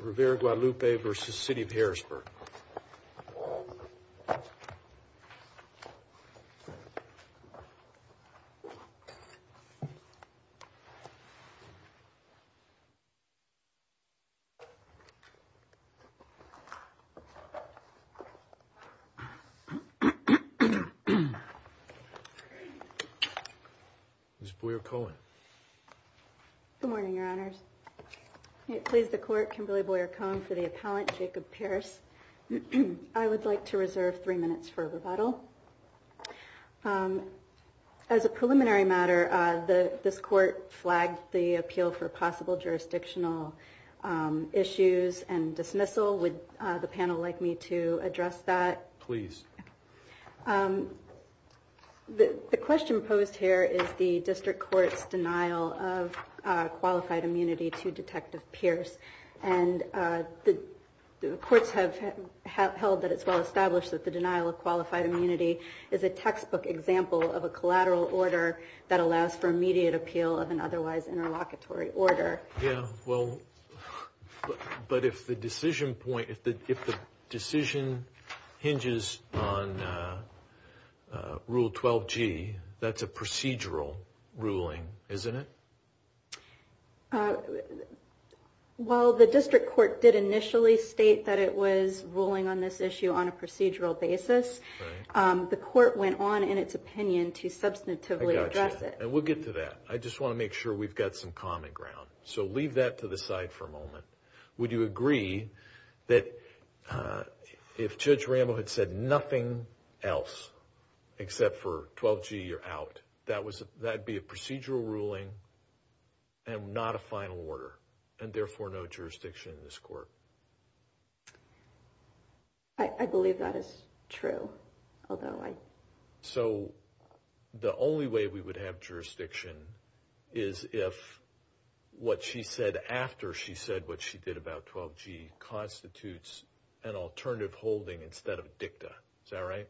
Rivera Guadalupe versus City of Harrisburg Good morning, your honors, it please the court Kimberly Boyer Cohn for the I would like to reserve three minutes for rebuttal. As a preliminary matter, the this court flagged the appeal for possible jurisdictional issues and dismissal with the panel like me to address that, please. The question posed here is the district courts denial of qualified immunity to Detective Pierce. And the courts have held that it's well established that the denial of qualified immunity is a textbook example of a collateral order that allows for immediate appeal of an otherwise interlocutory order. Yeah, well, but if the decision point if the if the decision hinges on rule 12 g, that's a while the district court did initially state that it was ruling on this issue on a procedural basis. The court went on in its opinion to substantively address it. And we'll get to that. I just want to make sure we've got some common ground. So leave that to the side for a moment. Would you agree that if Judge Rambo had said nothing else, except for 12g you're out, that was that'd be a procedural ruling and not a final order and therefore no jurisdiction in this court. I believe that is true, although I so the only way we would have jurisdiction is if what she said after she said what she did about 12 g constitutes an alternative holding instead of dicta. Is that right?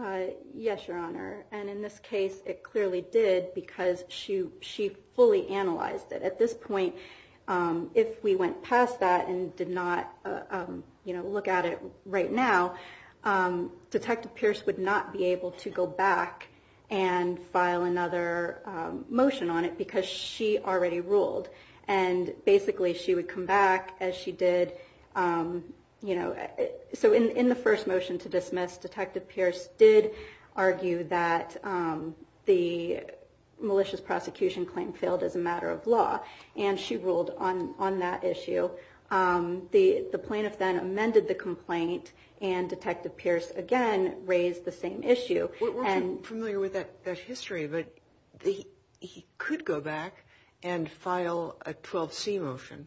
Uh, yes, Your Honor. And in this case, it clearly did because she she fully analyzed it at this point. Um, if we went past that and did not, um, you know, look at it right now, um, Detective Pierce would not be able to go back and file another motion on it because she already ruled and basically she would come back as she did. Um, you know, so in in the first motion to dismiss, Detective Pierce did argue that, um, the malicious prosecution claim failed as a matter of law, and she ruled on on that issue. Um, the plaintiff then amended the complaint and Detective Pierce again raised the same issue. We're familiar with that history, but he could go back and file a 12 C motion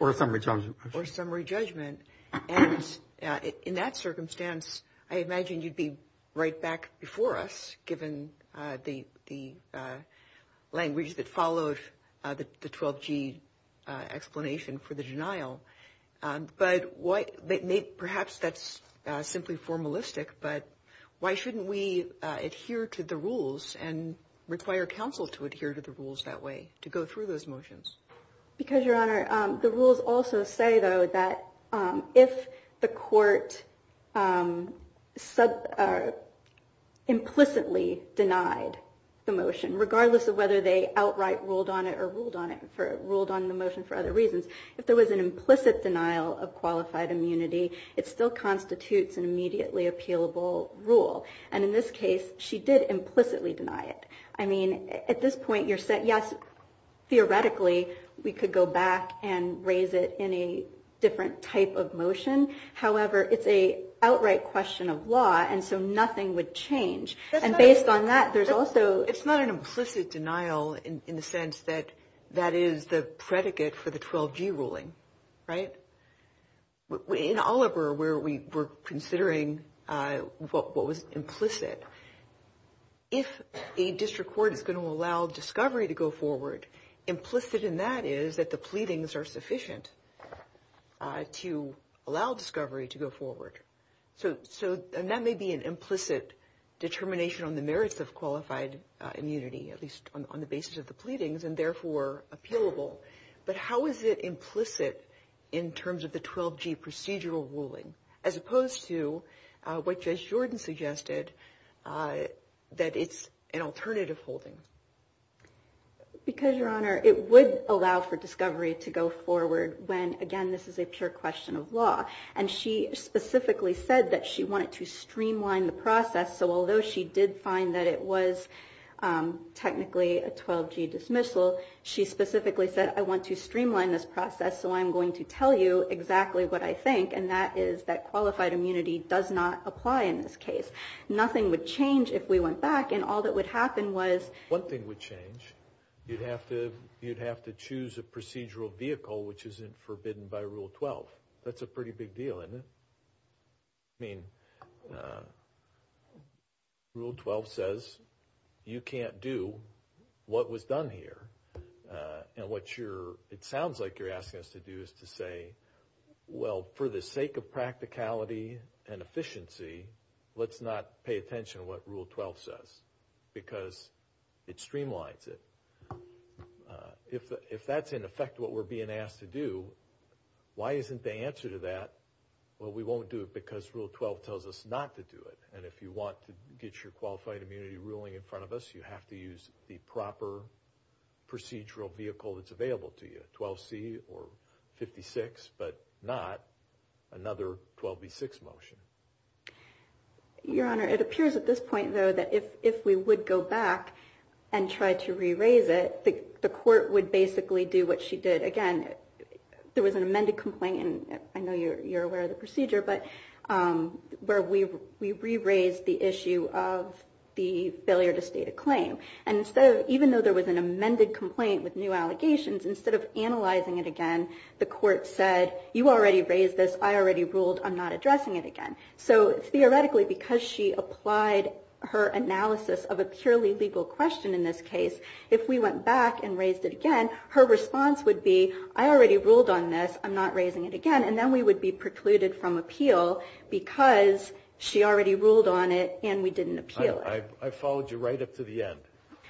or a summary judgment or summary judgment. And in that circumstance, I imagine you'd be right back before us, given the the, uh, language that followed the 12 G explanation for the denial. Um, but what? Perhaps that's simply formalistic. But why shouldn't we adhere to the rules and require counsel to adhere to the rules that way to go through those motions? Because, Your Honor, the rules also say, though, that, um, if the court, um, said, uh, implicitly denied the motion, regardless of whether they outright ruled on it or ruled on it for ruled on the motion for other reasons. If there was an implicit denial of qualified immunity, it still constitutes an immediately appealable rule. And in this case, she did implicitly deny it. I mean, theoretically, we could go back and raise it in a different type of motion. However, it's a outright question of law. And so nothing would change. And based on that, there's also it's not an implicit denial in the sense that that is the predicate for the 12 G ruling, right? In Oliver, where we were considering what was implicit, if a district court is going to allow discovery to go forward, implicit in that is that the pleadings are sufficient to allow discovery to go forward. So so that may be an implicit determination on the merits of qualified immunity, at least on the basis of the pleadings and therefore appealable. But how is it implicit in terms of the 12 G procedural ruling as opposed to what Judge Jordan suggested? Uh, that it's an Because your honor, it would allow for discovery to go forward when again, this is a pure question of law. And she specifically said that she wanted to streamline the process. So although she did find that it was technically a 12 G dismissal, she specifically said, I want to streamline this process. So I'm going to tell you exactly what I think. And that is that qualified immunity does not apply. In this case, nothing would change if we went back and all that would happen was one thing would change. You'd have to, you'd have to choose a procedural vehicle, which isn't forbidden by Rule 12. That's a pretty big deal, isn't it? I mean, uh, Rule 12 says you can't do what was done here. Uh, and what you're, it sounds like you're asking us to do is to say, well, for the sake of practicality and efficiency, let's not pay attention to what Rule 12 says because it streamlines it. Uh, if, if that's in effect what we're being asked to do, why isn't the answer to that? Well, we won't do it because Rule 12 tells us not to do it. And if you want to get your qualified immunity ruling in front of us, you have to use the proper procedural vehicle that's available to you. 12 C or 56, but not another 12 B six motion. Your Honor, it appears at this point though, that if, if we would go back and try to re-raise it, the court would basically do what she did. Again, there was an amended complaint, and I know you're, you're aware of the procedure, but, um, where we, we re-raised the issue of the failure to state a claim. And so even though there was an amended complaint with new allegations, instead of analyzing it again, the court said, you already raised this, I already ruled, I'm not addressing it again. So theoretically, because she applied her analysis of a purely legal question in this case, if we went back and raised it again, her response would be, I already ruled on this, I'm not raising it again. And then we would be precluded from appeal because she already ruled on it and we didn't appeal it. I followed you right up to the end.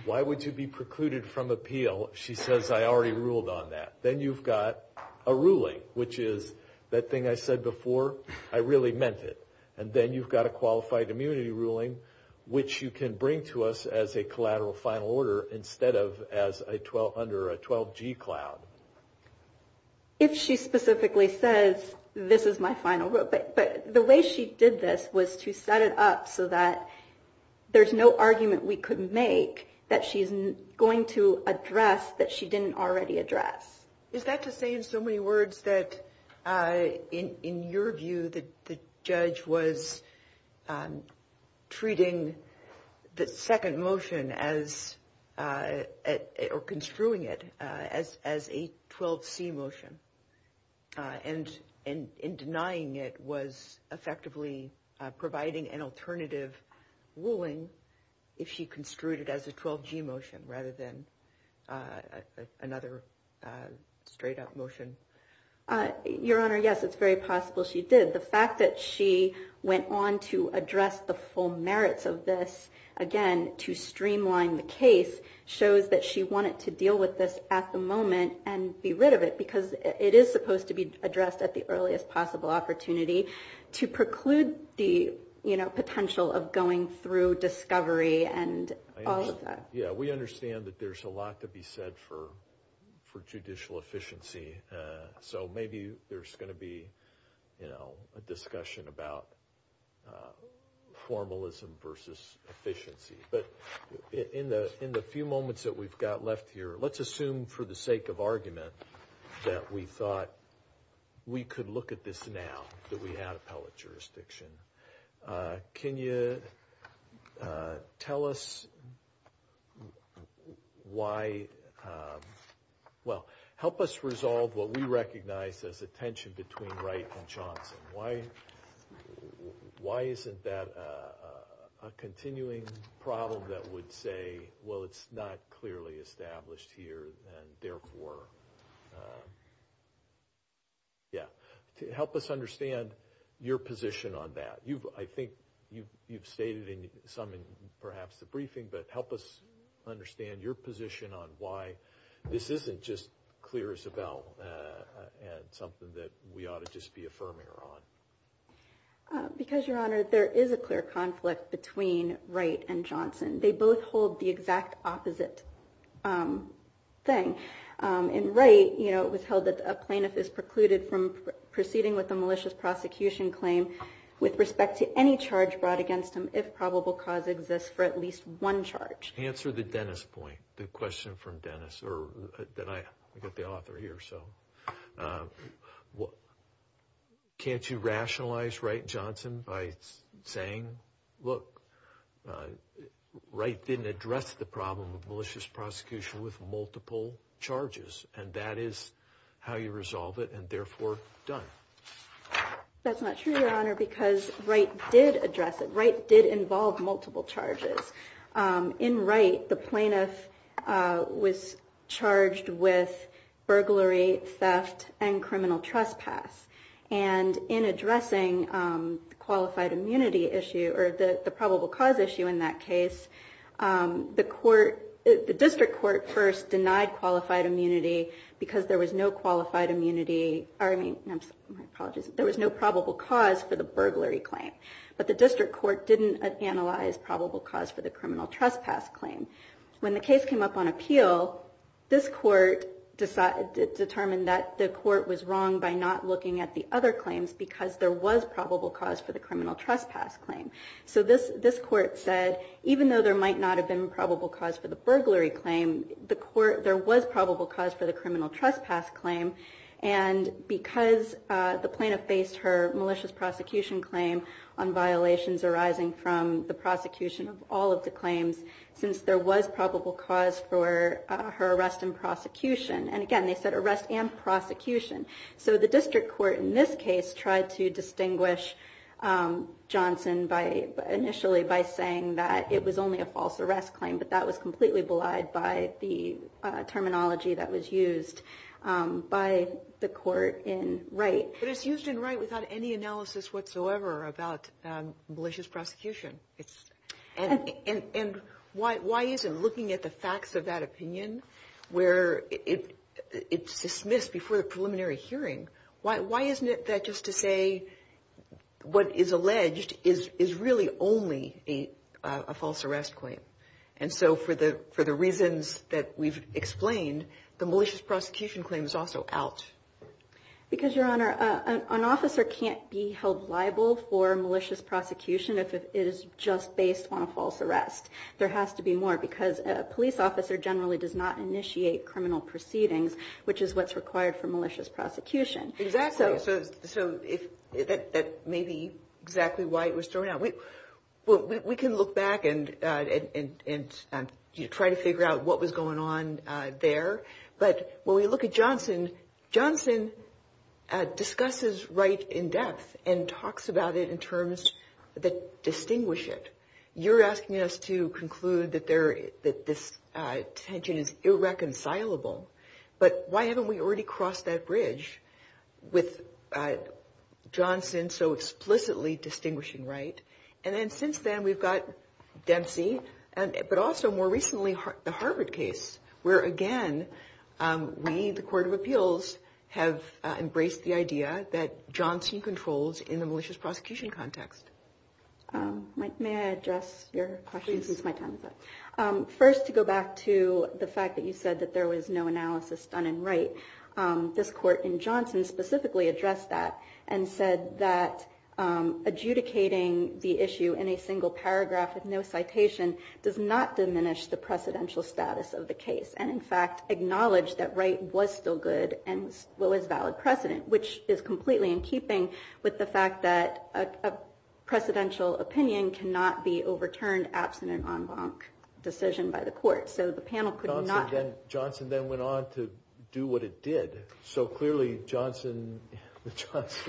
Why would you be precluded from appeal? She says, I already ruled on that. Then you've got a I really meant it. And then you've got a qualified immunity ruling, which you can bring to us as a collateral final order instead of as a 12, under a 12G cloud. If she specifically says, this is my final rule, but, but the way she did this was to set it up so that there's no argument we could make that she's going to address that she didn't already address. Is that to say in so many words that, in your view, the judge was treating the second motion as, or construing it as a 12C motion. And in denying it was effectively providing an alternative ruling, if she construed it as a 12G motion rather than another straight up motion? Your Honor, yes, it's very possible she did. The fact that she went on to address the full merits of this, again, to streamline the case shows that she wanted to deal with this at the moment and be rid of it because it is supposed to be addressed at the earliest possible opportunity to preclude the, you know, potential of going through discovery and all of that. Yeah, we understand that there's a lot to be said for judicial efficiency. So maybe there's going to be, you know, a discussion about formalism versus efficiency. But in the few moments that we've got left here, let's assume for the sake of argument that we thought we could look at this now that we had Why? Well, help us resolve what we recognize as a tension between Wright and Johnson. Why? Why isn't that a continuing problem that would say, well, it's not clearly established here? And therefore, yeah, help us understand your position on that. You've, I think you've, you've stated in some in perhaps the help us understand your position on why this isn't just clear as a bell and something that we ought to just be affirming her on. Because, Your Honor, there is a clear conflict between Wright and Johnson. They both hold the exact opposite thing. In Wright, you know, it was held that a plaintiff is precluded from proceeding with a malicious prosecution claim with respect to any charge brought against him if probable cause exists for at least one charge. Answer the Dennis point, the question from Dennis or that I get the author here. So what? Can't you rationalize Wright and Johnson by saying, look, Wright didn't address the problem of malicious prosecution with multiple charges, and that is how you resolve it and therefore done. That's not true, Your Honor, Wright didn't address it. Wright did involve multiple charges. In Wright, the plaintiff was charged with burglary, theft, and criminal trespass. And in addressing qualified immunity issue or the probable cause issue in that case, the court, the district court first denied qualified immunity because there was no qualified immunity. I mean, I'm sorry, my apologies. There was no probable cause for the burglary claim, but the district court didn't analyze probable cause for the criminal trespass claim. When the case came up on appeal, this court determined that the court was wrong by not looking at the other claims because there was probable cause for the criminal trespass claim. So this court said, even though there might not have been probable cause for the burglary claim, there was probable cause for the criminal trespass claim. And because the plaintiff faced her malicious prosecution claim on violations arising from the prosecution of all of the claims, since there was probable cause for her arrest and prosecution. And again, they said arrest and prosecution. So the district court in this case tried to distinguish Johnson by initially by saying that it was only a false arrest claim, but that was completely belied by the terminology that was used by the court in Wright. But it's used in Wright without any analysis whatsoever about malicious prosecution. And why isn't looking at the facts of that opinion, where it's dismissed before the preliminary hearing, why isn't it that just to say what is alleged is really only a false arrest claim? And so for the reasons that we've explained, the malicious prosecution claim is also out. Because, Your Honor, an officer can't be held liable for malicious prosecution if it is just based on a false arrest. There has to be more because a police officer generally does not initiate criminal proceedings, which is what's required for malicious prosecution. Exactly. So that may be exactly why it was thrown out. We can look back and try to figure out what was going on there. But when we look at Johnson, Johnson discusses Wright in depth and talks about it in terms that distinguish it. You're asking us to conclude that this tension is irreconcilable. But why haven't we already crossed that bridge with Johnson so explicitly distinguishing Wright? And then since then, we've got Dempsey, but also more recently, the Harvard case, where again, we, the Court of Appeals, have embraced the idea that Johnson controls in the malicious prosecution context. May I address your question since my time is up? First, to go back to the fact that you said that there was no analysis done in Wright. This court in adjudicating the issue in a single paragraph with no citation does not diminish the precedential status of the case. And in fact, acknowledge that Wright was still good and well as valid precedent, which is completely in keeping with the fact that a precedential opinion cannot be overturned absent an en banc decision by the court. So the panel could not have... Johnson then went on to do what it did. So clearly, the Johnson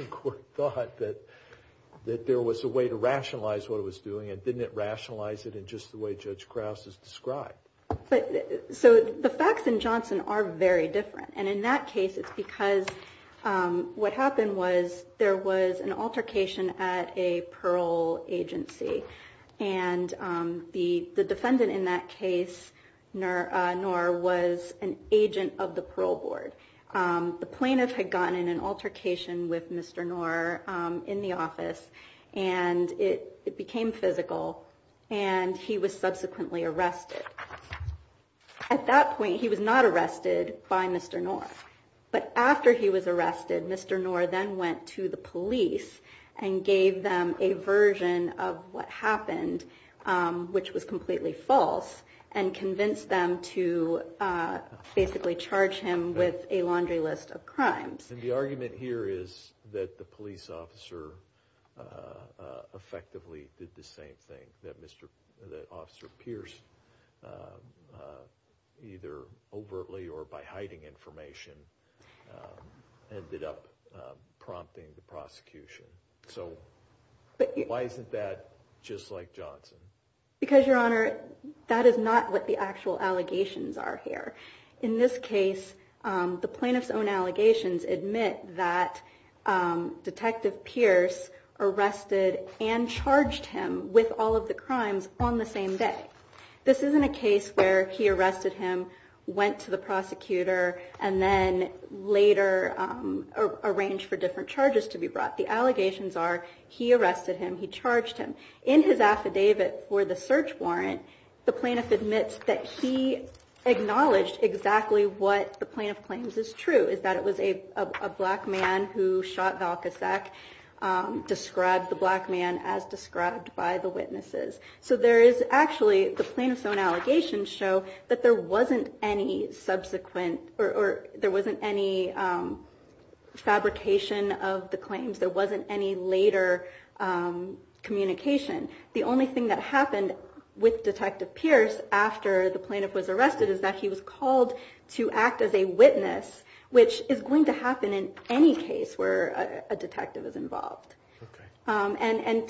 court thought that there was a way to rationalize what it was doing, and didn't it rationalize it in just the way Judge Krause has described? So the facts in Johnson are very different. And in that case, it's because what happened was there was an altercation at a parole agency. And the defendant in that case, Noor, was an agent of the parole board. The defendant was in the office, and it became physical, and he was subsequently arrested. At that point, he was not arrested by Mr. Noor. But after he was arrested, Mr. Noor then went to the police and gave them a version of what happened, which was completely false, and convinced them to basically charge him with a laundry list of crimes. And the argument here is that the police officer effectively did the same thing, that Officer Pierce, either overtly or by hiding information, ended up prompting the prosecution. So why isn't that just like Johnson? Because, Your Honor, that is not what the actual allegations are here. In this case, the plaintiff's own allegations admit that Detective Pierce arrested and charged him with all of the crimes on the same day. This isn't a case where he arrested him, went to the prosecutor, and then later arranged for different charges to be brought. The allegations are he arrested him, he charged him. In his affidavit for the search warrant, the plaintiff admits that he acknowledged exactly what the plaintiff claims is true, is that it was a black man who shot Val Kossak, described the black man as described by the witnesses. So there is actually, the plaintiff's own allegations show that there wasn't any subsequent, or there wasn't any fabrication of the claims. There wasn't any later communication. The only thing that the plaintiff was arrested is that he was called to act as a witness, which is going to happen in any case where a detective is involved. And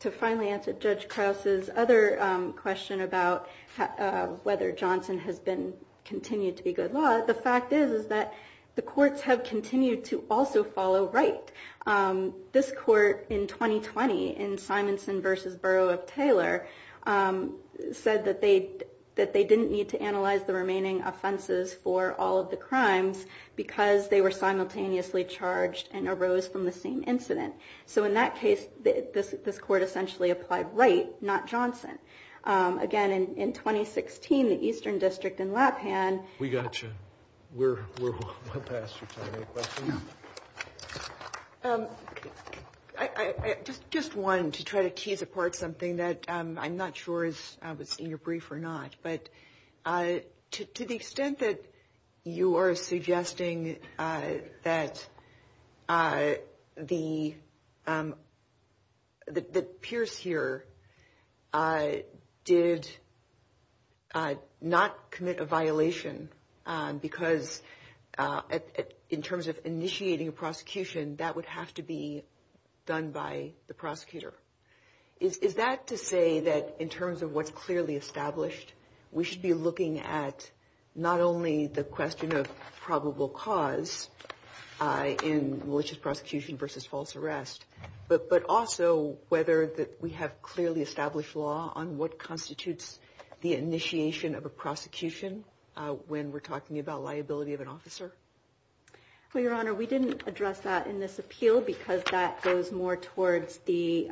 to finally answer Judge Krause's other question about whether Johnson has been continued to be good law, the fact is that the courts have continued to also follow right. This court in 2020, in Simonson v. Borough of Taylor, said that they didn't need to analyze the remaining offenses for all of the crimes because they were simultaneously charged and arose from the same incident. So in that case, this court essentially applied right, not Johnson. Again, in 2016, the Eastern District in Lapan... We got you. We're well past your time. Any questions? Just one, to try to tease apart something that I'm not sure is in your brief or not, but to the extent that you are suggesting that Pierce here did not commit a violation because in terms of initiating a prosecution, that would have to be done by the prosecutor. Is that to say that in the case that we have established, we should be looking at not only the question of probable cause in malicious prosecution versus false arrest, but also whether we have clearly established law on what constitutes the initiation of a prosecution when we're talking about liability of an officer? Well, Your Honor, we didn't address that in this appeal because that goes more towards the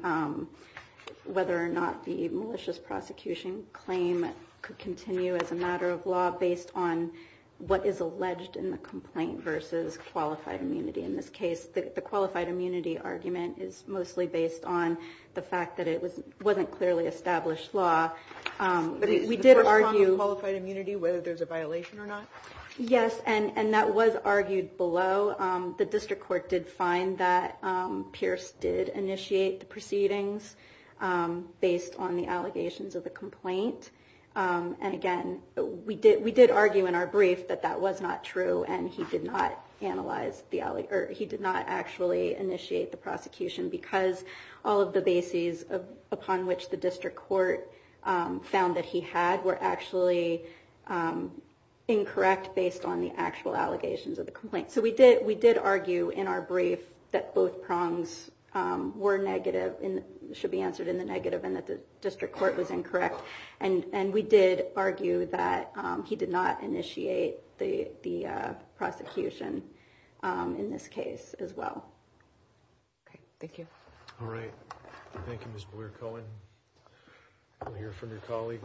whether or not the malicious prosecution claim could continue as a matter of law based on what is alleged in the complaint versus qualified immunity. In this case, the qualified immunity argument is mostly based on the fact that it wasn't clearly established law. We did argue qualified immunity, whether there's a violation or not. Yes, and that was argued below. The district court did find that Pierce did initiate the proceedings based on the allegations of the complaint. And again, we did argue in our brief that that was not true and he did not analyze the... He did not actually initiate the prosecution because all of the bases upon which the district court found that he had were actually incorrect based on the actual allegations of the complaint. So we did argue in our brief that both prongs were negative and should be answered in the negative and that the district court was incorrect. And we did argue that he did not initiate the prosecution in this case as well. Okay, thank you. All right. Thank you, Ms. Blair-Cohen. We'll hear from your colleague.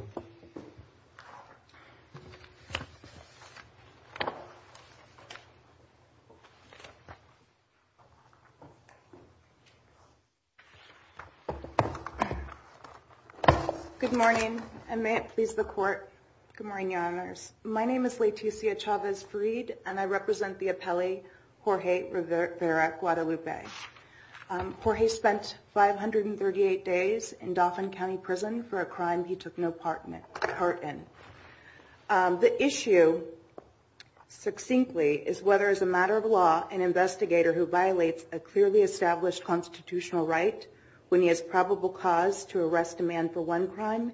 Good morning, and may it please the court. Good morning, Your Honors. My name is Leticia Chavez-Farid, and I represent the appellee Jorge Rivera Guadalupe. Jorge spent 538 days in Dauphin County Prison for a crime he took no part in. The issue, succinctly, is whether as a matter of law, an investigator who violates a clearly established constitutional right when he has probable cause to arrest a man for one crime,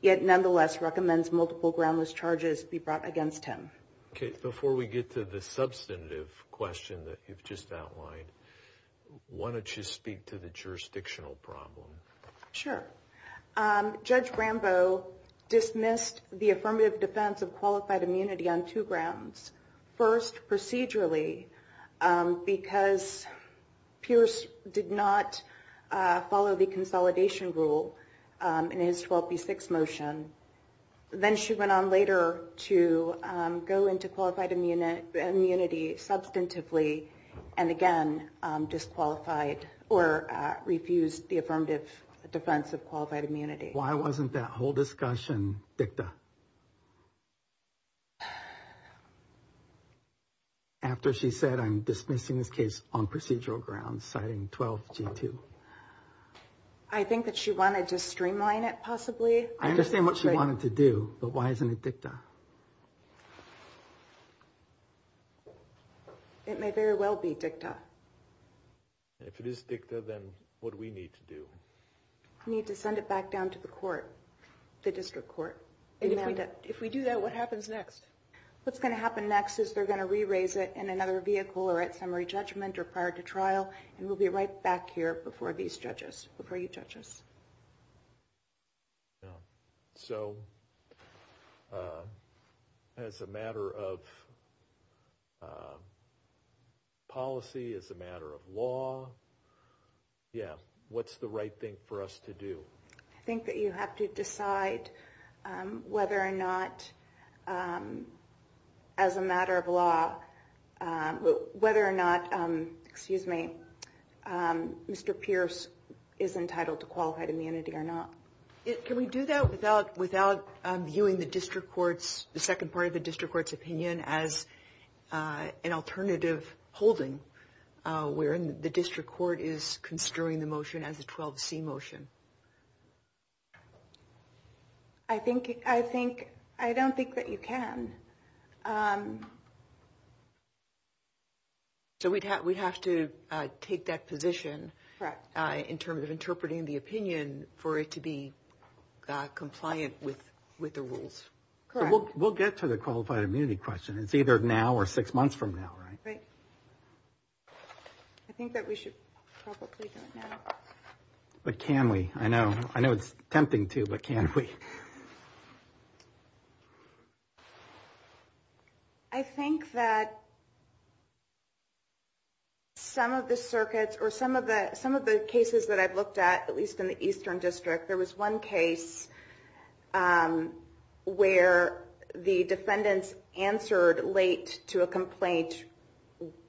yet nonetheless recommends multiple groundless charges be brought against him. Okay, before we get to the substantive question that you've just outlined, why don't you speak to the jurisdictional problem? Sure. Judge Rambo dismissed the affirmative defense of qualified immunity on two grounds. First, procedurally, because Pierce did not follow the consolidation rule in his 12B6 motion. Then she went on later to go into qualified immunity substantively and again disqualified or refused the affirmative defense of qualified immunity. Why wasn't that whole discussion dicta? After she said, I'm dismissing this case on procedural grounds, citing 12G2. I think that she wanted to streamline it, possibly. I understand what she wanted to do, but why isn't it dicta? It may very well be dicta. If it is dicta, then what do we need to do? We need to send it back down to the court, the district court. If we do that, what happens next? What's going to happen next is they're going to re-raise it in another vehicle or at summary judgment or prior to trial, and we'll be right back here before these judges, before you judges. As a matter of policy, as a matter of law, yeah, what's the right thing for us to do? I think that you have to decide whether or not as a matter of law, whether or not, excuse me, Mr. Pierce is entitled to qualified immunity or not. Can we do that without viewing the district court's, the second part of the district court's opinion as an alternative holding, wherein the district court is considering the motion as a 12C motion? I think, I think, I don't think that you can. So we'd have, we'd have to take that position. Correct. In terms of interpreting the opinion for it to be compliant with, with the rules. Correct. We'll, we'll get to the qualified immunity question. It's either now or six months from now, right? Right. I think that we should probably do it now. But can we? I know, I know it's tempting to, but can we? I think that some of the circuits or some of the, some of the cases that I've looked at, at least in the Eastern District, there was one case where the defendants answered late to a complaint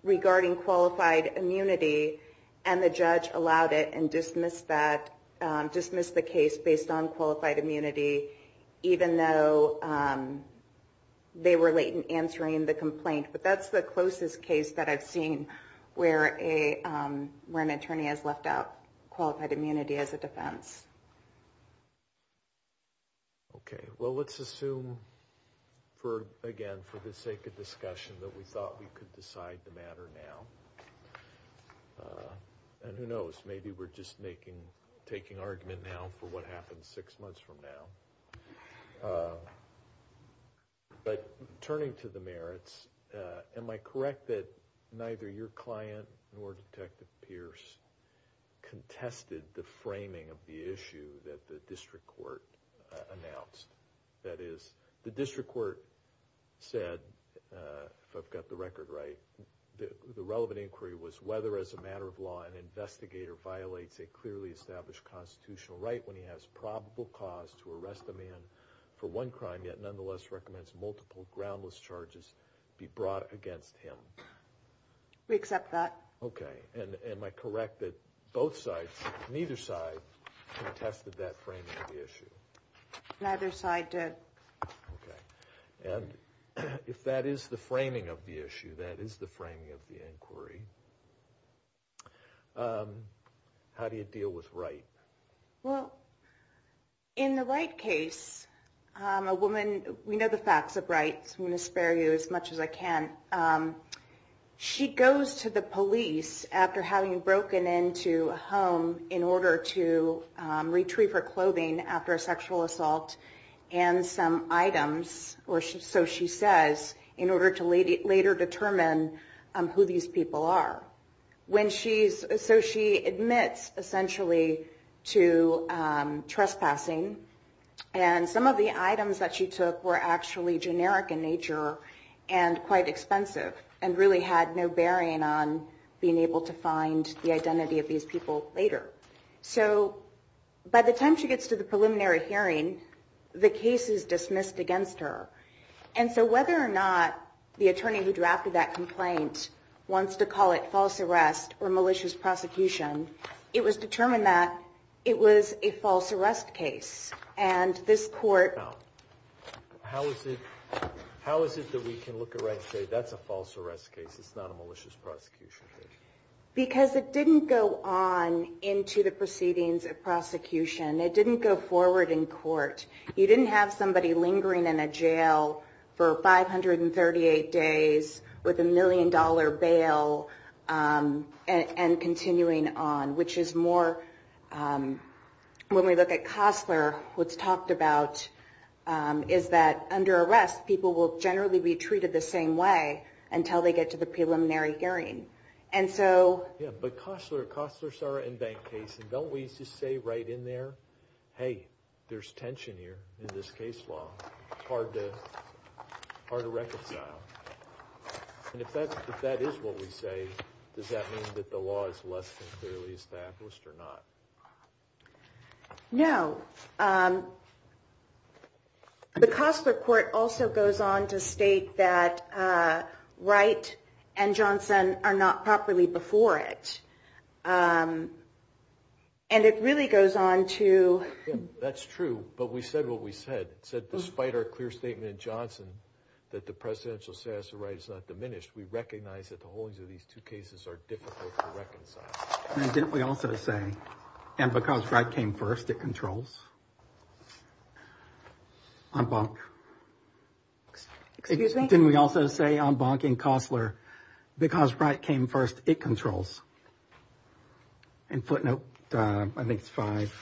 regarding qualified immunity and the judge allowed it and dismissed that, dismissed the case based on qualified immunity, even though they were late in answering the complaint. But that's the closest case that I've seen where a, where an attorney has left out qualified immunity as a defense. Okay. Well, let's assume for, again, for the sake of discussion that we thought we could decide the matter now. And who knows, maybe we're just making, taking argument now for what happens six months from now. But turning to the merits, am I correct that neither your client nor Detective Pierce contested the framing of the issue that the district court announced? That is, the district court said, if I've got the record right, the relevant inquiry was whether, as a matter of law, an investigator violates a clearly established constitutional right when he has probable cause to arrest a man for one crime, yet nonetheless recommends multiple groundless charges be brought against him. We accept that. Okay. And am I correct that both sides, neither side contested that framing of the issue? Neither side did. Okay. And if that is the framing of the issue, that is the framing of the inquiry, how do you deal with right? Well, in the right case, a woman, we know the facts of rights, I'm going to spare you as much as I can. She goes to the police after having broken into a home in order to retrieve her clothing after a sexual assault and some items, or so she says, in order to later determine who these people are. When she's, so she admits essentially to trespassing and some of the items that she took were actually generic in nature and quite expensive and really had no bearing on being able to find the identity of these people later. So by the time she gets to the preliminary hearing, the case is dismissed against her. And so whether or not the attorney who drafted that complaint wants to call it false arrest or malicious prosecution, it was determined that it was a false arrest case. And this court. How is it? How is it that we can look at right? That's a false arrest case. It's not a malicious prosecution. Because it didn't go on into the proceedings of prosecution. It didn't go forward in court. You didn't have somebody lingering in a jail for 538 days with a million dollar bail and continuing on, which is more, when we look at Costler, what's talked about is that under arrest, people will generally be treated the same way until they get to the preliminary hearing. And so. Yeah, but Costler, Costler, Sarah and VanCase, and don't we just say right in there, hey, there's tension here in this case law. Hard to, hard to reconcile. And if that, if that is what we say, does that mean that the law is less clearly established or not? No. Um, the Costler court also goes on to state that Wright and Johnson are not properly before it. Um, and it really goes on to. That's true. But we said what we said, said, despite our clear statement in Johnson, that the presidential status of Wright is not diminished. We recognize that the holdings of these two cases are difficult to reconcile. And didn't we also say, and because Wright came first, it controls. Um, didn't we also say on Bonk and Costler, because Wright came first, it controls and footnote, uh, I think it's five.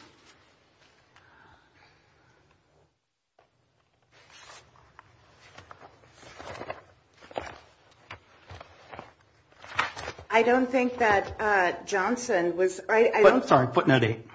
I don't think that, uh, Johnson was, I'm sorry, footnote eight.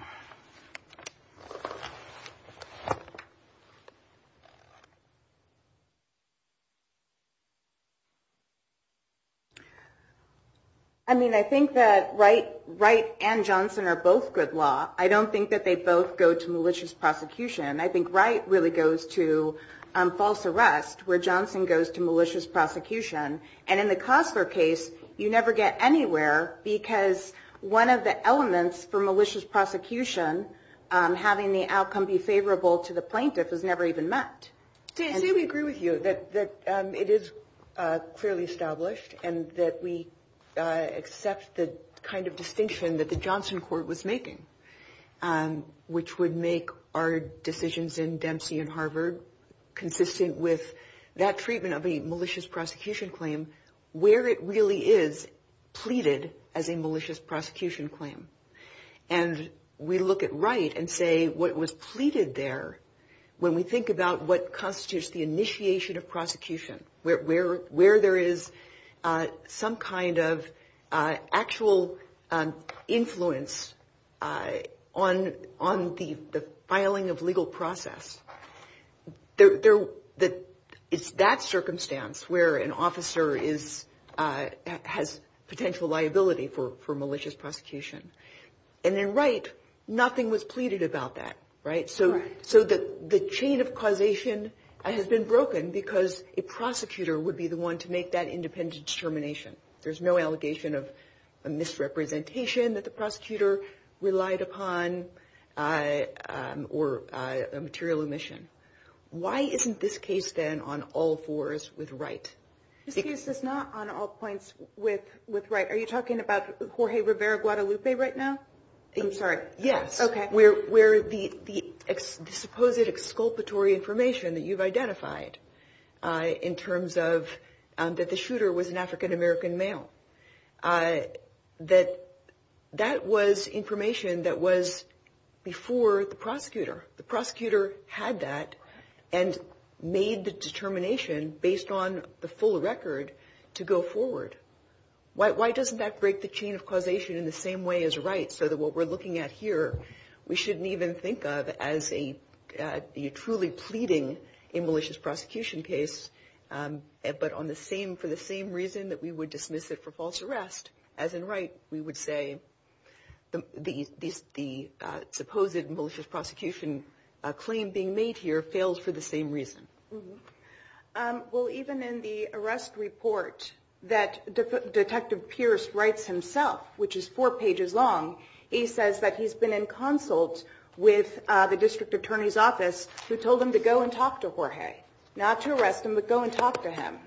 I mean, I think that Wright, Wright and Johnson are both good law. I don't think that they both go to malicious prosecution. I think Wright really goes to, um, false arrest where Johnson goes to malicious prosecution. And in the Costler case, you never get anywhere because one of the elements for malicious prosecution, um, having the outcome be favorable to the plaintiff was never even met. Say, say we agree with you that, that, um, it is, uh, clearly established and that we, uh, accept the kind of distinction that the Johnson court was making, um, which would make our decisions in Dempsey and Harvard consistent with that treatment of a malicious prosecution claim where it really is pleaded as a malicious prosecution claim. And we look at Wright and say what was pleaded there. When we think about what constitutes the initiation of prosecution, where, where, where there is, uh, some kind of, uh, actual, um, influence, uh, on, on the, the filing of legal process, there, there, that it's that circumstance where an officer is, uh, has potential liability for, for malicious prosecution. And then Wright, nothing was pleaded about that, right? So, so the, the chain of causation has been broken because a prosecutor would be the one to make that independent determination. There's no allegation of a misrepresentation that the prosecutor relied upon, uh, um, or, uh, a material omission. Why isn't this case then on all fours with Wright? This case is not on all points with, with Wright. Are you talking about Jorge Rivera Guadalupe right now? I'm sorry. Yes. Okay. Where, where the, the ex, the supposed exculpatory information that you've identified, uh, in terms of, um, that the shooter was an African American male, uh, that, that was information that was before the prosecutor. The prosecutor had that and made the determination based on the full record to go forward. Why, why doesn't that break the chain of causation in the same way as Wright? So that what we're looking at here, we shouldn't even think of as a, uh, truly pleading a malicious prosecution case. Um, but on the same, for the same reason that we would dismiss it for false arrest as in Wright, we would say the, the, the, uh, supposed malicious prosecution, uh, claim being made here fails for the same reason. Um, well, even in the arrest report that Detective Pierce writes himself, which is four pages long, he says that he's been in consult with, uh, the who told him to go and talk to Jorge, not to arrest him, but go and talk to him.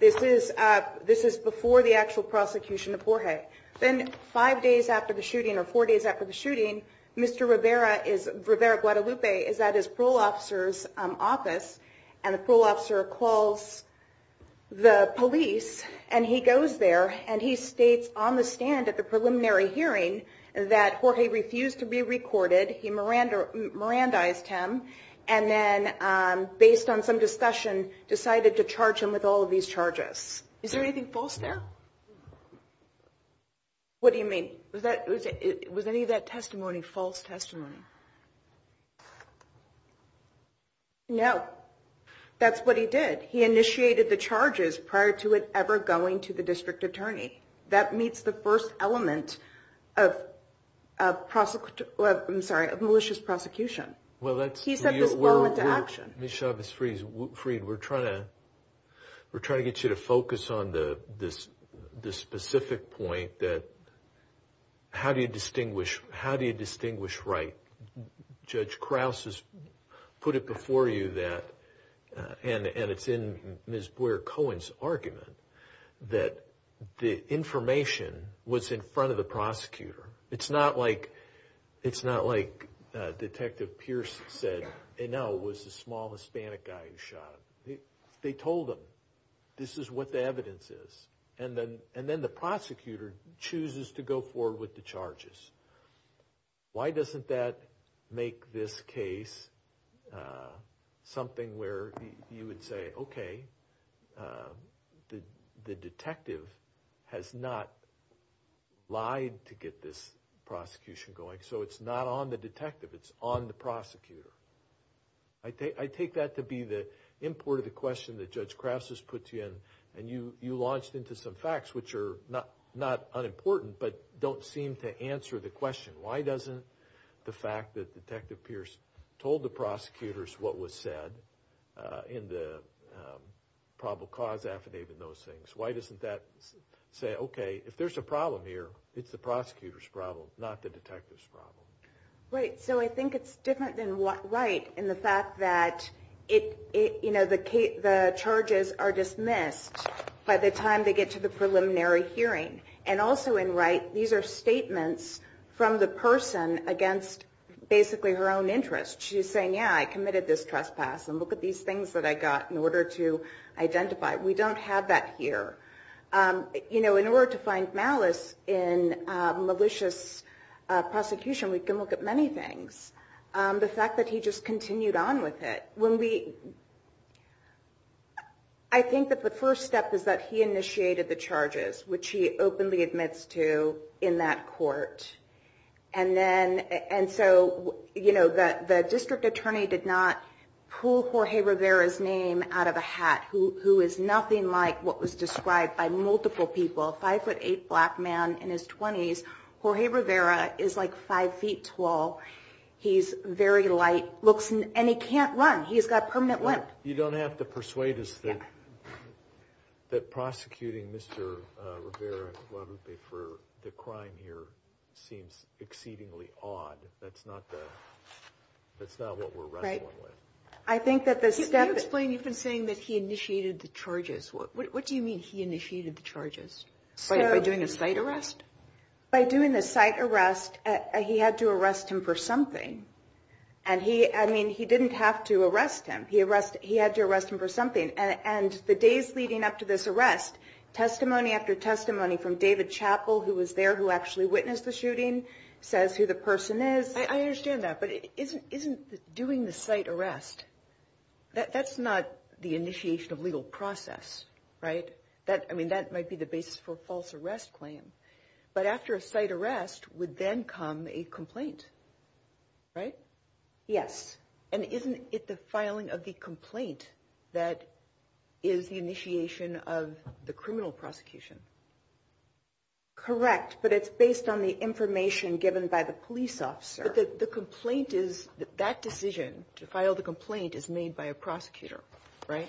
This is, uh, this is before the actual prosecution of Jorge. Then five days after the shooting or four days after the shooting, Mr. Rivera is, Rivera Guadalupe is at his parole officer's office and the parole officer calls the police and he goes there and he states on the stand at the preliminary hearing that Jorge refused to be recorded. He Miranda, Mirandized him. And then, um, based on some discussion, decided to charge him with all of these charges. Is there anything false there? What do you mean? Was that, was it, was any of that testimony false testimony? No, that's what he did. He initiated the charges prior to it ever going to the district attorney that meets the first element of a prosecutor, I'm sorry, of malicious prosecution. Well, that's, he said this well into action. Ms. Chavez-Freed, we're trying to, we're trying to get you to focus on the, this, this specific point that how do you distinguish, how do you distinguish right? Judge Krause has put it before you that, uh, and, and it's in Ms. Cohen's argument that the information was in front of the prosecutor. It's not like, it's not like, uh, Detective Pierce said, and now it was the small Hispanic guy who shot him. They told him this is what the evidence is. And then, and then the prosecutor chooses to go forward with the charges. Why doesn't that make this case, uh, something where you would say, okay, uh, the, the detective has not lied to get this prosecution going. So it's not on the detective. It's on the prosecutor. I take, I take that to be the import of the question that Judge Krause has put you in and you, you launched into some facts, which are not, not unimportant, but don't seem to answer the question. Why doesn't the fact that Detective Pierce told the prosecutors what was said, uh, in the, um, probable cause affidavit and those things, why doesn't that say, okay, if there's a problem here, it's the prosecutor's problem, not the detective's problem. Right. So I think it's different than what, right. And the fact that it, it, you know, the, the charges are dismissed by the time they get to the preliminary hearing. And also in right, these are statements from the person against basically her own interest. She's saying, yeah, I committed this trespass. And look at these things that I got in order to identify. We don't have that here. Um, you know, in order to find malice in, um, malicious, uh, prosecution, we can look at many things. Um, the fact that he just continued on with it when we, I think that the first step is that he initiated the charges, which he openly admits to in that court. And then, and so, you know, the, the district attorney did not pull Jorge Rivera's name out of a hat who, who is nothing like what was described by multiple people. Five foot eight black man in his twenties. Jorge Rivera is like five feet tall. He's very light looks and he can't run. He's got permanent limp. You don't have to persuade us that, that prosecuting Mr. Rivera for the crime here seems exceedingly odd. That's not the, that's not what we're wrestling with. I think that the step explain, you've been saying that he initiated the charges. What, what, what do you mean? He initiated the charges by doing a site arrest by doing the site arrest. He had to arrest him for something. And he, I mean, he didn't have to arrest him. He arrested, he had to arrest him for something. And the days leading up to this arrest, testimony after testimony from David chapel, who was there, who actually witnessed the shooting says who the person is, I understand that, but it isn't, isn't doing the site arrest. That that's not the initiation of legal process, right? That, I mean, that might be the basis for false arrest claim, but after a site arrest would then come a complaint, right? Yes. And isn't it the filing of the complaint that is the initiation of the criminal prosecution? Correct. But it's based on the information given by the police officer. The complaint is that decision to file the complaint is made by a prosecutor, right?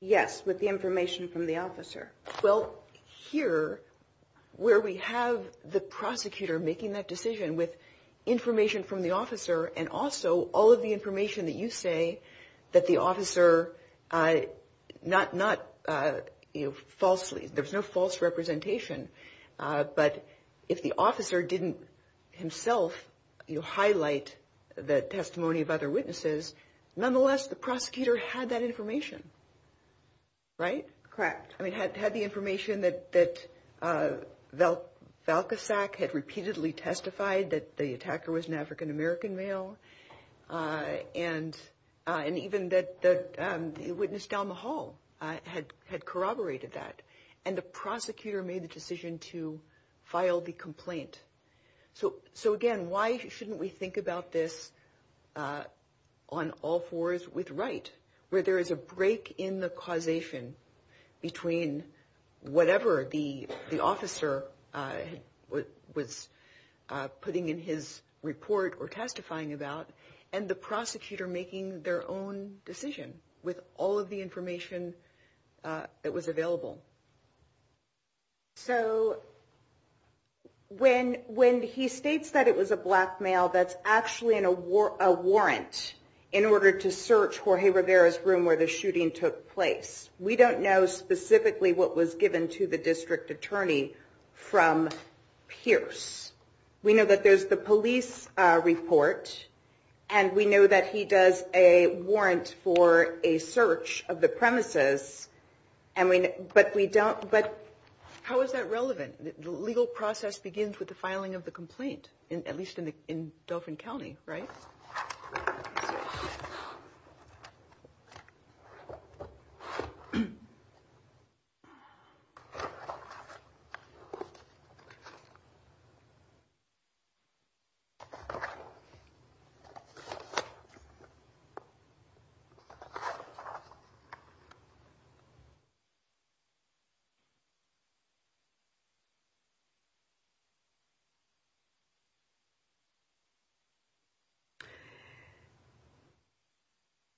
Yes. With the information from the officer. Well, here where we have the prosecutor making that decision with information from the officer and also all of the information that you say that the officer, uh, not, not, uh, you know, falsely, there's no false representation. Uh, but if the officer didn't himself, you highlight the testimony of other witnesses, nonetheless, the prosecutor had that information, right? Correct. I mean, had, had the information that, that, uh, Val Valka sack had repeatedly testified that the attacker was an African-American male, uh, and, uh, and even that, that, um, the witness down the hall, uh, had, had corroborated that. And the prosecutor made the decision to file the complaint. So, so again, why shouldn't we think about this, uh, on all fours with right, where there is a break in the causation between whatever the, the officer, uh, what was, uh, putting in his report or testifying about and the prosecutor making their own decision with all of the information, uh, that was available. So when, when he states that it was a black male, that's actually in a war, a warrant in order to search Jorge Rivera's room where the shooting took place. We don't know specifically what was given to the district attorney from Pierce. We know that there's the police, uh, report, and we know that he does a warrant for a search of the premises and we, but we don't, but how is that relevant? The legal process begins with the filing of the complaint in, at least in the, in Dauphin County, right? Hmm. Okay.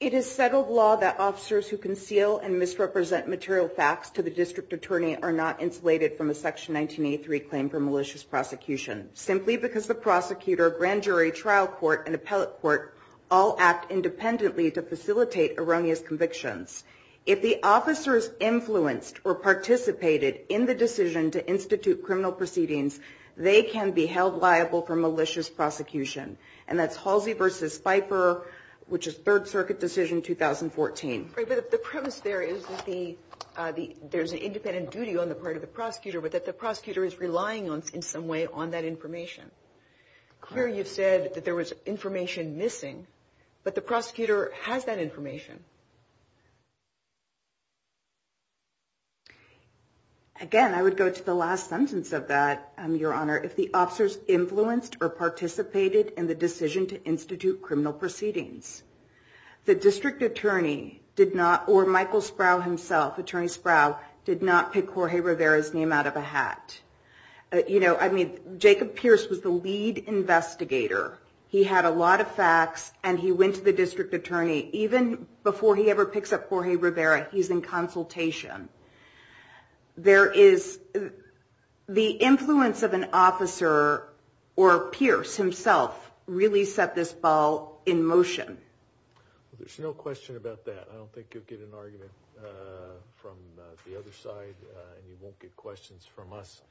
It is settled law that officers who conceal and misrepresent material facts to the district attorney are not insulated from a section 1983 claim for malicious prosecution simply because the prosecutor grand jury trial court and appellate court all act independently to facilitate erroneous convictions. If the officers influenced or participated in the decision to institute criminal proceedings, they can be held liable for malicious prosecution and that's Halsey versus Pfeiffer, which is third circuit decision. In 2014, the premise there is that the, uh, the, there's an independent duty on the part of the prosecutor, but that the prosecutor is relying on in some way on that information. Clear. You've said that there was information missing, but the prosecutor has that information. Again, I would go to the last sentence of that. Um, your honor, if the officers influenced or participated in the district attorney did not, or Michael Sproul himself, attorney Sproul did not pick Jorge Rivera's name out of a hat. Uh, you know, I mean, Jacob Pierce was the lead investigator. He had a lot of facts and he went to the district attorney, even before he ever picks up Jorge Rivera, he's in consultation, there is the influence of an officer or Pierce himself really set this ball in motion. Well, there's no question about that. I don't think you'll get an argument, uh, from the other side. Uh, and you won't get questions from us,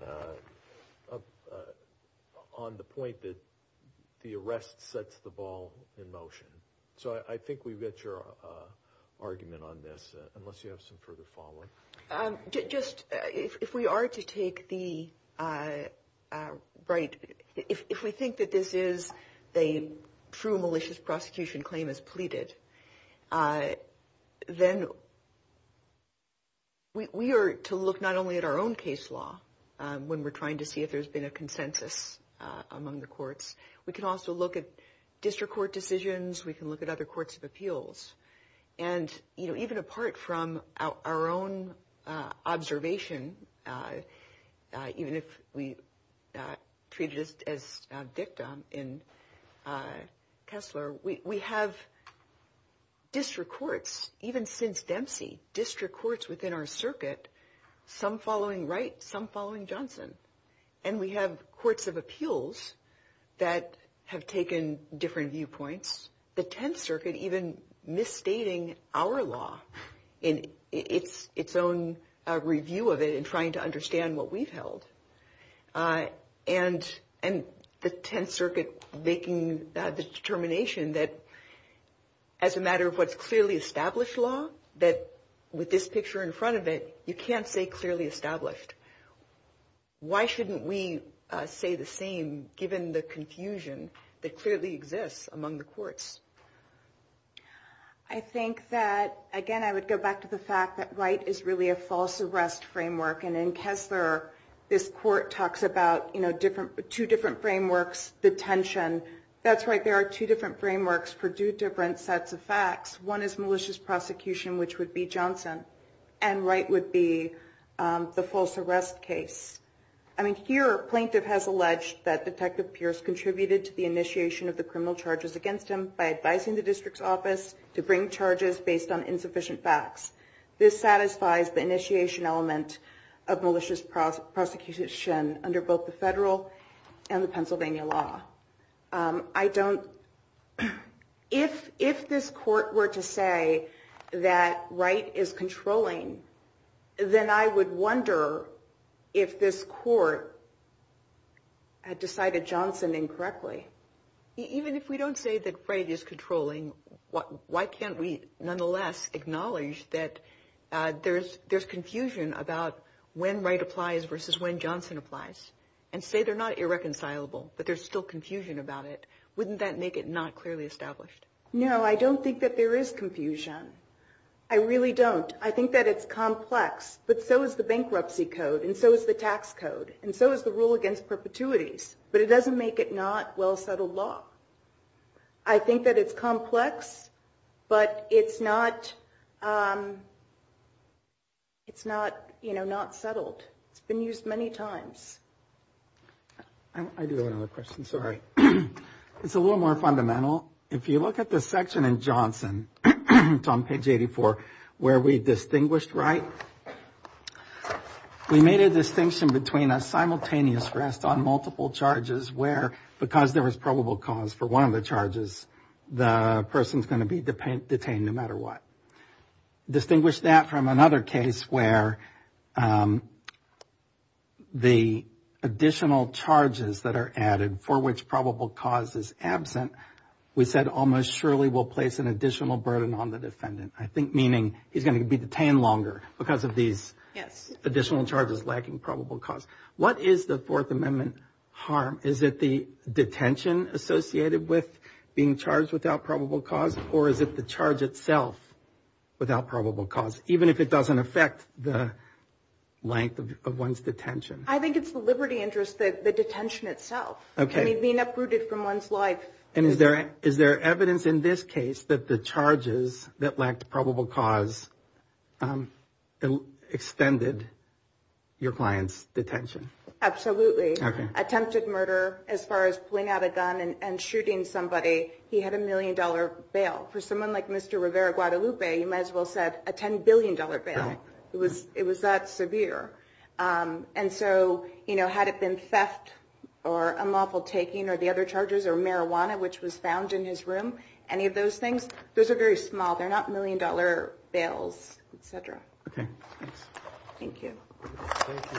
uh, uh, on the point that the arrest sets the ball in motion. So I think we've got your, uh, argument on this, unless you have some further follow-up. Um, just, uh, if we are to take the, uh, uh, right. If we think that this is the true malicious prosecution claim is pleaded, uh, then we are to look not only at our own case law, um, when we're trying to see if there's been a consensus, uh, among the courts, we can also look at district court decisions. We can look at other courts of appeals and, you know, even apart from our own, uh, observation, uh, uh, even if we, uh, treat it as a victim in, uh, Kessler, we, we have district courts, even since Dempsey district courts within our circuit, some following Wright, some following Johnson, and we have courts of appeals that have taken different viewpoints. The 10th circuit, even misstating our law in its own review of it and trying to understand what we've held, uh, and, and the 10th circuit making the determination that as a matter of what's clearly established law, that with this picture in front of it, you can't say clearly established. Why shouldn't we say the same given the confusion that we're having with district courts? I think that, again, I would go back to the fact that Wright is really a false arrest framework. And in Kessler, this court talks about, you know, different, two different frameworks, detention. That's right. There are two different frameworks for two different sets of facts. One is malicious prosecution, which would be Johnson and Wright would be, um, the false arrest case. I mean, here plaintiff has alleged that detective Pierce contributed to the by advising the district's office to bring charges based on insufficient facts. This satisfies the initiation element of malicious prosecution under both the federal and the Pennsylvania law. Um, I don't, if, if this court were to say that Wright is controlling, then I would wonder if this court had decided Johnson incorrectly, even if we don't say that Wright is controlling, what, why can't we nonetheless acknowledge that, uh, there's, there's confusion about when Wright applies versus when Johnson applies and say they're not irreconcilable, but there's still confusion about it. Wouldn't that make it not clearly established? No, I don't think that there is confusion. I really don't. I think that it's complex, but so is the bankruptcy code. And so is the tax code. And so is the rule against perpetuities, but it doesn't make it not well settled law. I think that it's complex, but it's not, um, it's not, you know, not settled. It's been used many times. I do have another question. Sorry. It's a little more fundamental. If you look at the section in Johnson, on page 84, where we distinguished Wright, we made a distinction between a simultaneous rest on multiple charges where, because there was probable cause for one of the charges, the person's going to be detained no matter what. Distinguish that from another case where, um, the additional charges that are added for which probable cause is absent, we said almost surely we'll place an additional burden on the defendant. I think meaning he's going to be detained longer because of these additional charges lacking probable cause. What is the fourth amendment harm? Is it the detention associated with being charged without probable cause, or is it the charge itself without probable cause, even if it doesn't affect the length of one's detention? I think it's the liberty interest that the detention itself, I mean, being uprooted from one's life. And is there, is there evidence in this case that the charges that lacked probable cause, um, extended your client's detention? Absolutely. Attempted murder, as far as pulling out a gun and shooting somebody, he had a million dollar bail. For someone like Mr. Rivera Guadalupe, you might as well said a $10 billion bail. It was, it was that severe. Um, and so, you know, had it been theft or unlawful taking or the other charges or marijuana, which was found in his room, any of those things, those are very small. They're not million dollar bails, et cetera. Thank you. Thank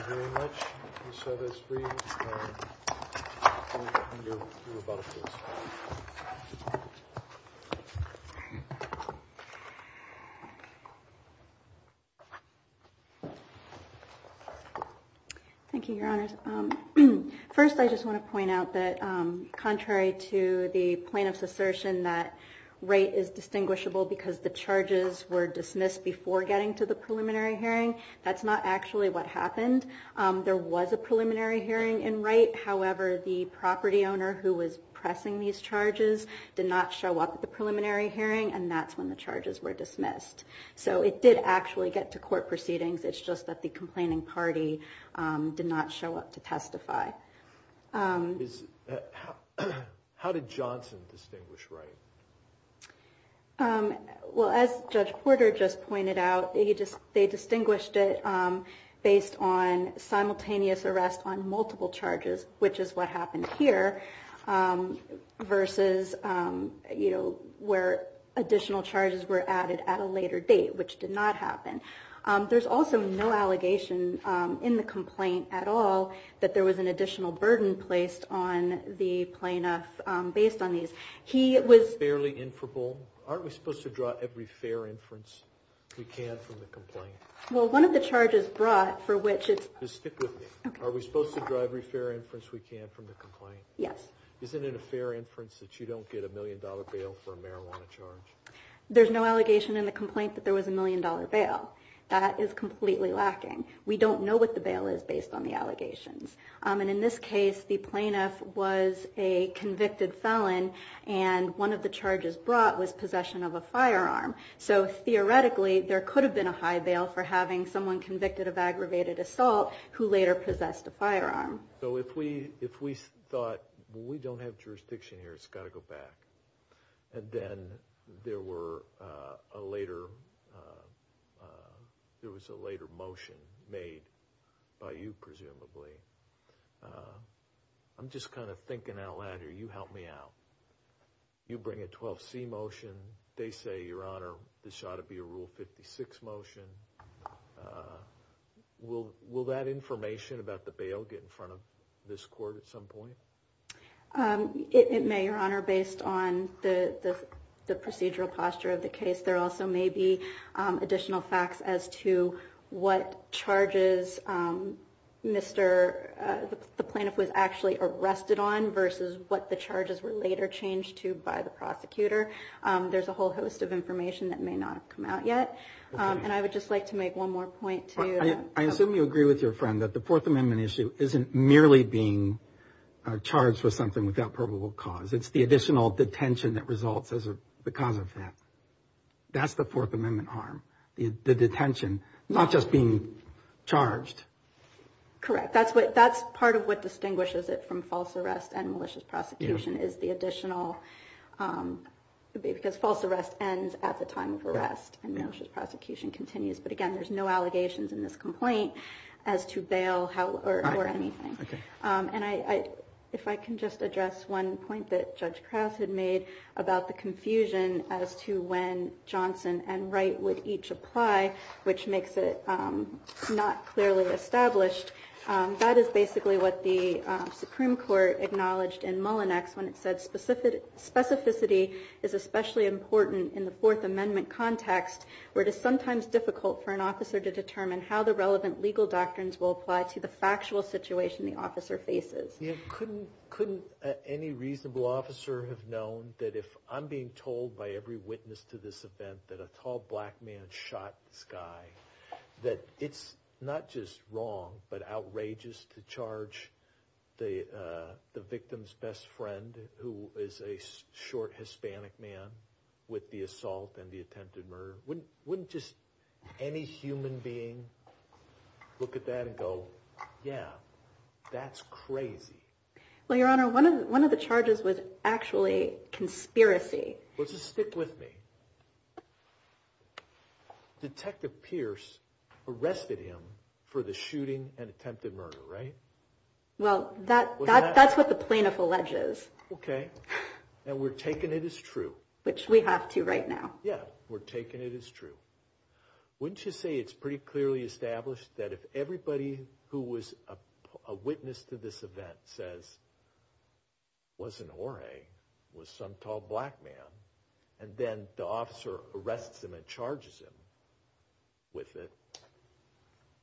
you very much. Michelle, there's three, um, and you're, you're about to close. Thank you, your honors. Um, first I just want to point out that, um, contrary to the plaintiff's assertion that rate is distinguishable because the charges were dismissed before getting to the preliminary hearing. That's not actually what happened. Um, there was a preliminary hearing in right. However, the property owner who was pressing these charges did not show up at the preliminary hearing and that's when the charges were dismissed. So it did actually get to court proceedings. It's just that the complaining party, um, did not show up to testify. Um, how did Johnson distinguish right? Um, well, as judge Porter just pointed out, he just, they distinguished it, um, based on simultaneous arrest on multiple charges, which is what happened here. Um, versus, um, you know, where additional charges were added at a later date, which did not happen. Um, there's also no allegation, um, in the complaint at all, that there was an additional burden placed on the plaintiff, um, based on these. He was fairly inferable. Aren't we supposed to draw every fair inference we can from the complaint? Well, one of the charges brought for which it's, are we supposed to drive every fair inference we can from the complaint? Yes. Isn't it a fair inference that you don't get a million dollar bail for a marijuana charge? There's no allegation in the complaint that there was a million dollar bail. That is completely lacking. We don't know what the bail is based on the allegations. Um, and in this case, the plaintiff was a convicted felon and one of the charges brought was possession of a firearm. So theoretically, there could have been a high bail for having someone convicted of aggravated assault who later possessed a firearm. So if we, if we thought, well, we don't have jurisdiction here. It's got to go back. And then there were, uh, a later, uh, uh, there was a later motion made by you, presumably. Uh, I'm just kind of thinking out loud here. You help me out. You bring a 12C motion. They say your honor, this ought to be a rule 56 motion. Uh, will, will that information about the bail get in front of this court at some point? Um, it may your honor, based on the, the, the procedural posture of the case, there also may be, um, additional facts as to what charges, um, Mr. Uh, the plaintiff was actually arrested on versus what the charges were later changed to by the prosecutor. Um, there's a whole host of information that may not have come out yet. Um, and I would just like to make one more point. I assume you agree with your friend that the fourth amendment issue isn't merely being charged for something without probable cause. It's the additional detention that results as a, because of that. That's the fourth amendment harm, the detention, not just being charged. Correct. That's what, that's part of what distinguishes it from false arrest and malicious prosecution is the additional, um, because false arrest ends at the time of arrest and malicious prosecution continues. But again, there's no allegations in this complaint as to bail or anything. Um, and I, I, if I can just address one point that judge Krauss had made about the confusion as to when Johnson and Wright would each apply, which makes it, um, not clearly established. Um, that is basically what the, uh, Supreme Court acknowledged in Mullinex when it said specific specificity is especially important in the fourth amendment context, where it is sometimes difficult for an officer to determine how the relevant legal doctrines will apply to the factual situation the officer faces, couldn't, couldn't, uh, any reasonable officer have known that if I'm being told by every witness to this event, that a tall black man shot sky, that it's not just wrong, but outrageous to charge the, uh, the victim's best friend, who is a short Hispanic man with the assault and the attempted murder wouldn't, wouldn't just any human being look at that and go, yeah, that's crazy. Well, your honor, one of the, one of the charges was actually conspiracy. Let's just stick with me. Detective Pierce arrested him for the shooting and attempted murder, right? Well, that, that, that's what the plaintiff alleges. Okay. And we're taking it as true, which we have to right now. Yeah. We're taking it as true. Wouldn't you say it's pretty clearly established that if everybody who was a and then the officer arrests him and charges him with it,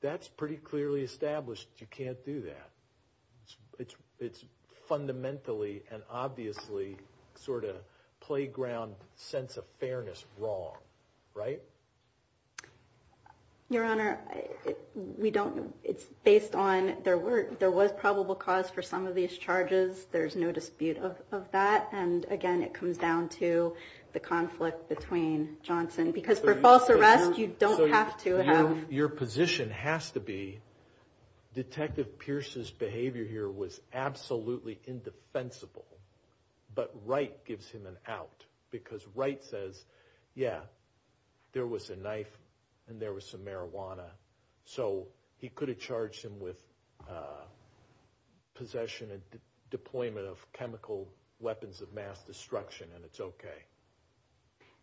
that's pretty clearly established. You can't do that. It's, it's fundamentally and obviously sort of playground sense of fairness. Wrong. Right. Your honor, we don't, it's based on their work. There was probable cause for some of these charges. There's no dispute of that. And again, it comes down to the conflict between Johnson, because for false arrest, you don't have to have. Your position has to be Detective Pierce's behavior here was absolutely indefensible, but Wright gives him an out because Wright says, yeah, there was a knife and there was some marijuana. So he could have charged him with possession and deployment of chemical weapons of mass destruction. And it's okay.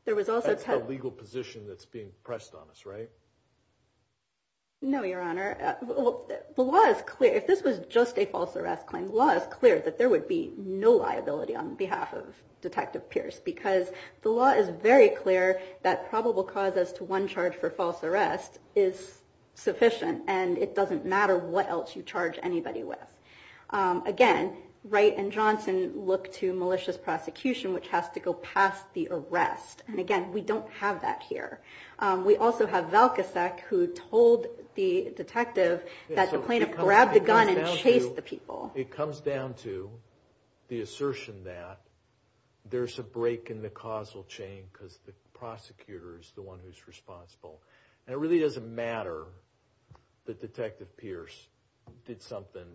There was also a legal position that's being pressed on us, right? No, your honor. The law is clear. If this was just a false arrest claim law is clear that there would be no liability on behalf of Detective Pierce, because the law is very clear that probable cause as to one charge for false arrest is sufficient and it doesn't matter what else you charge anybody with. Again, Wright and Johnson look to malicious prosecution, which has to go past the arrest. And again, we don't have that here. We also have Velkosek, who told the detective that the plaintiff grabbed the gun and chased the people. It comes down to the assertion that there's a break in the causal chain because the prosecutor is the one who's responsible. And it really doesn't matter that Detective Pierce did something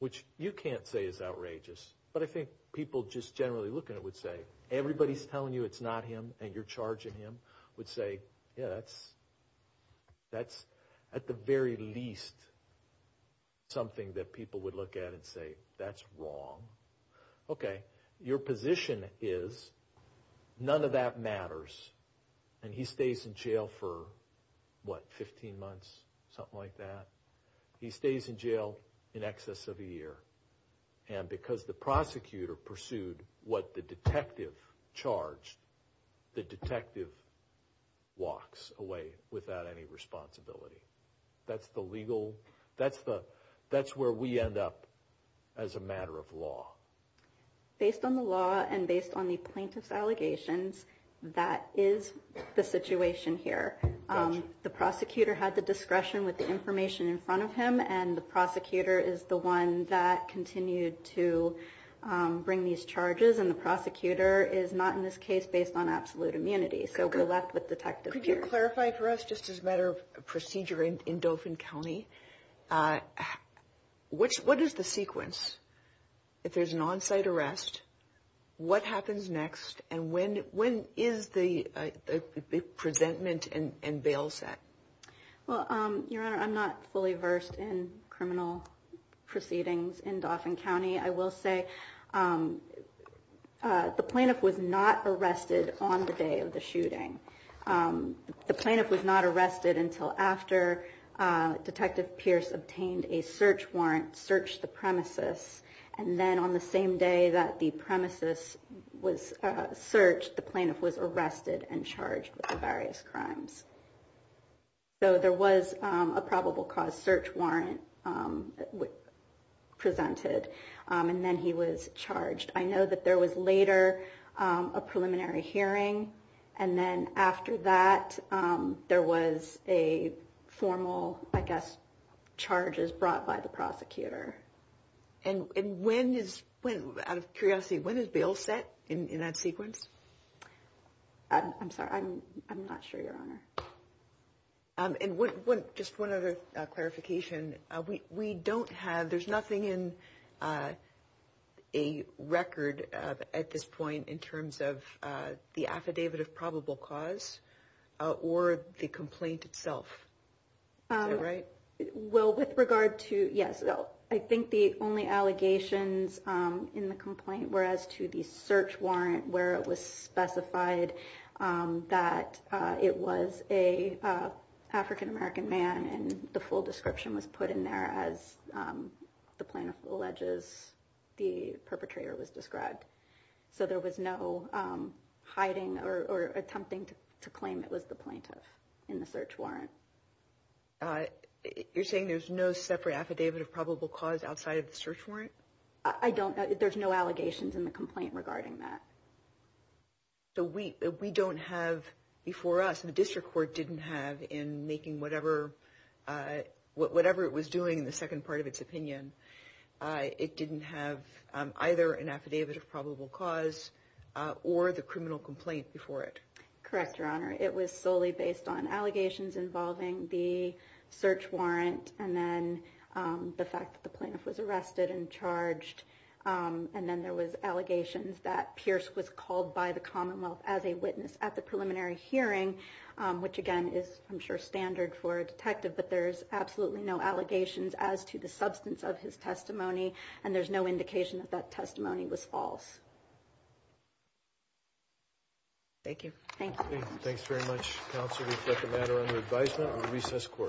which you can't say is outrageous. But I think people just generally looking at it would say, everybody's telling you it's not him and you're charging him, would say, yeah, that's at the very least something that people would look at and say, that's wrong. Okay, your position is none of that matters. And he stays in jail for, what, 15 months, something like that. He stays in jail in excess of a year. And because the prosecutor pursued what the detective charged, the detective walks away without any responsibility. That's the legal, that's where we end up as a matter of law. Based on the law and based on the plaintiff's allegations, that is the situation here. The prosecutor had the discretion with the information in front of him, and the prosecutor is the one that continued to bring these charges. And the prosecutor is not, in this case, based on absolute immunity. So we're left with Detective Pierce. Could you clarify for us, just as a matter of procedure in Dauphin County, what is the on-site arrest, what happens next, and when is the presentment and bail set? Well, Your Honor, I'm not fully versed in criminal proceedings in Dauphin County. I will say, the plaintiff was not arrested on the day of the shooting. The plaintiff was not arrested until after Detective Pierce obtained a search warrant, searched the premises, and then on the same day that the premises was searched, the plaintiff was arrested and charged with the various crimes. So there was a probable cause search warrant presented, and then he was charged. I know that there was later a preliminary hearing, and then after that, there was a charge brought by the prosecutor. And when is, out of curiosity, when is bail set in that sequence? I'm sorry, I'm not sure, Your Honor. And just one other clarification, we don't have, there's nothing in a record at this point in terms of the affidavit of probable cause or the complaint itself, is that right? Well, with regard to, yes, I think the only allegations in the complaint were as to the search warrant where it was specified that it was a African-American man and the full description was put in there as the plaintiff alleges the perpetrator was described. So there was no hiding or attempting to claim it was the plaintiff in the search warrant. You're saying there's no separate affidavit of probable cause outside of the search warrant? I don't, there's no allegations in the complaint regarding that. So we don't have before us, the district court didn't have in making whatever it was doing in the second part of its opinion, it didn't have either an affidavit of probable cause or the criminal complaint before it. Correct, Your Honor. It was solely based on allegations involving the search warrant and then the fact that the plaintiff was arrested and charged. And then there was allegations that Pierce was called by the Commonwealth as a witness at the preliminary hearing, which again is, I'm sure, standard for a detective, but there's absolutely no allegations as to the substance of his testimony. And there's no indication that that testimony was false. Thank you. Thank you. Thanks very much, counsel. We'll reflect the matter under advisement on recess court.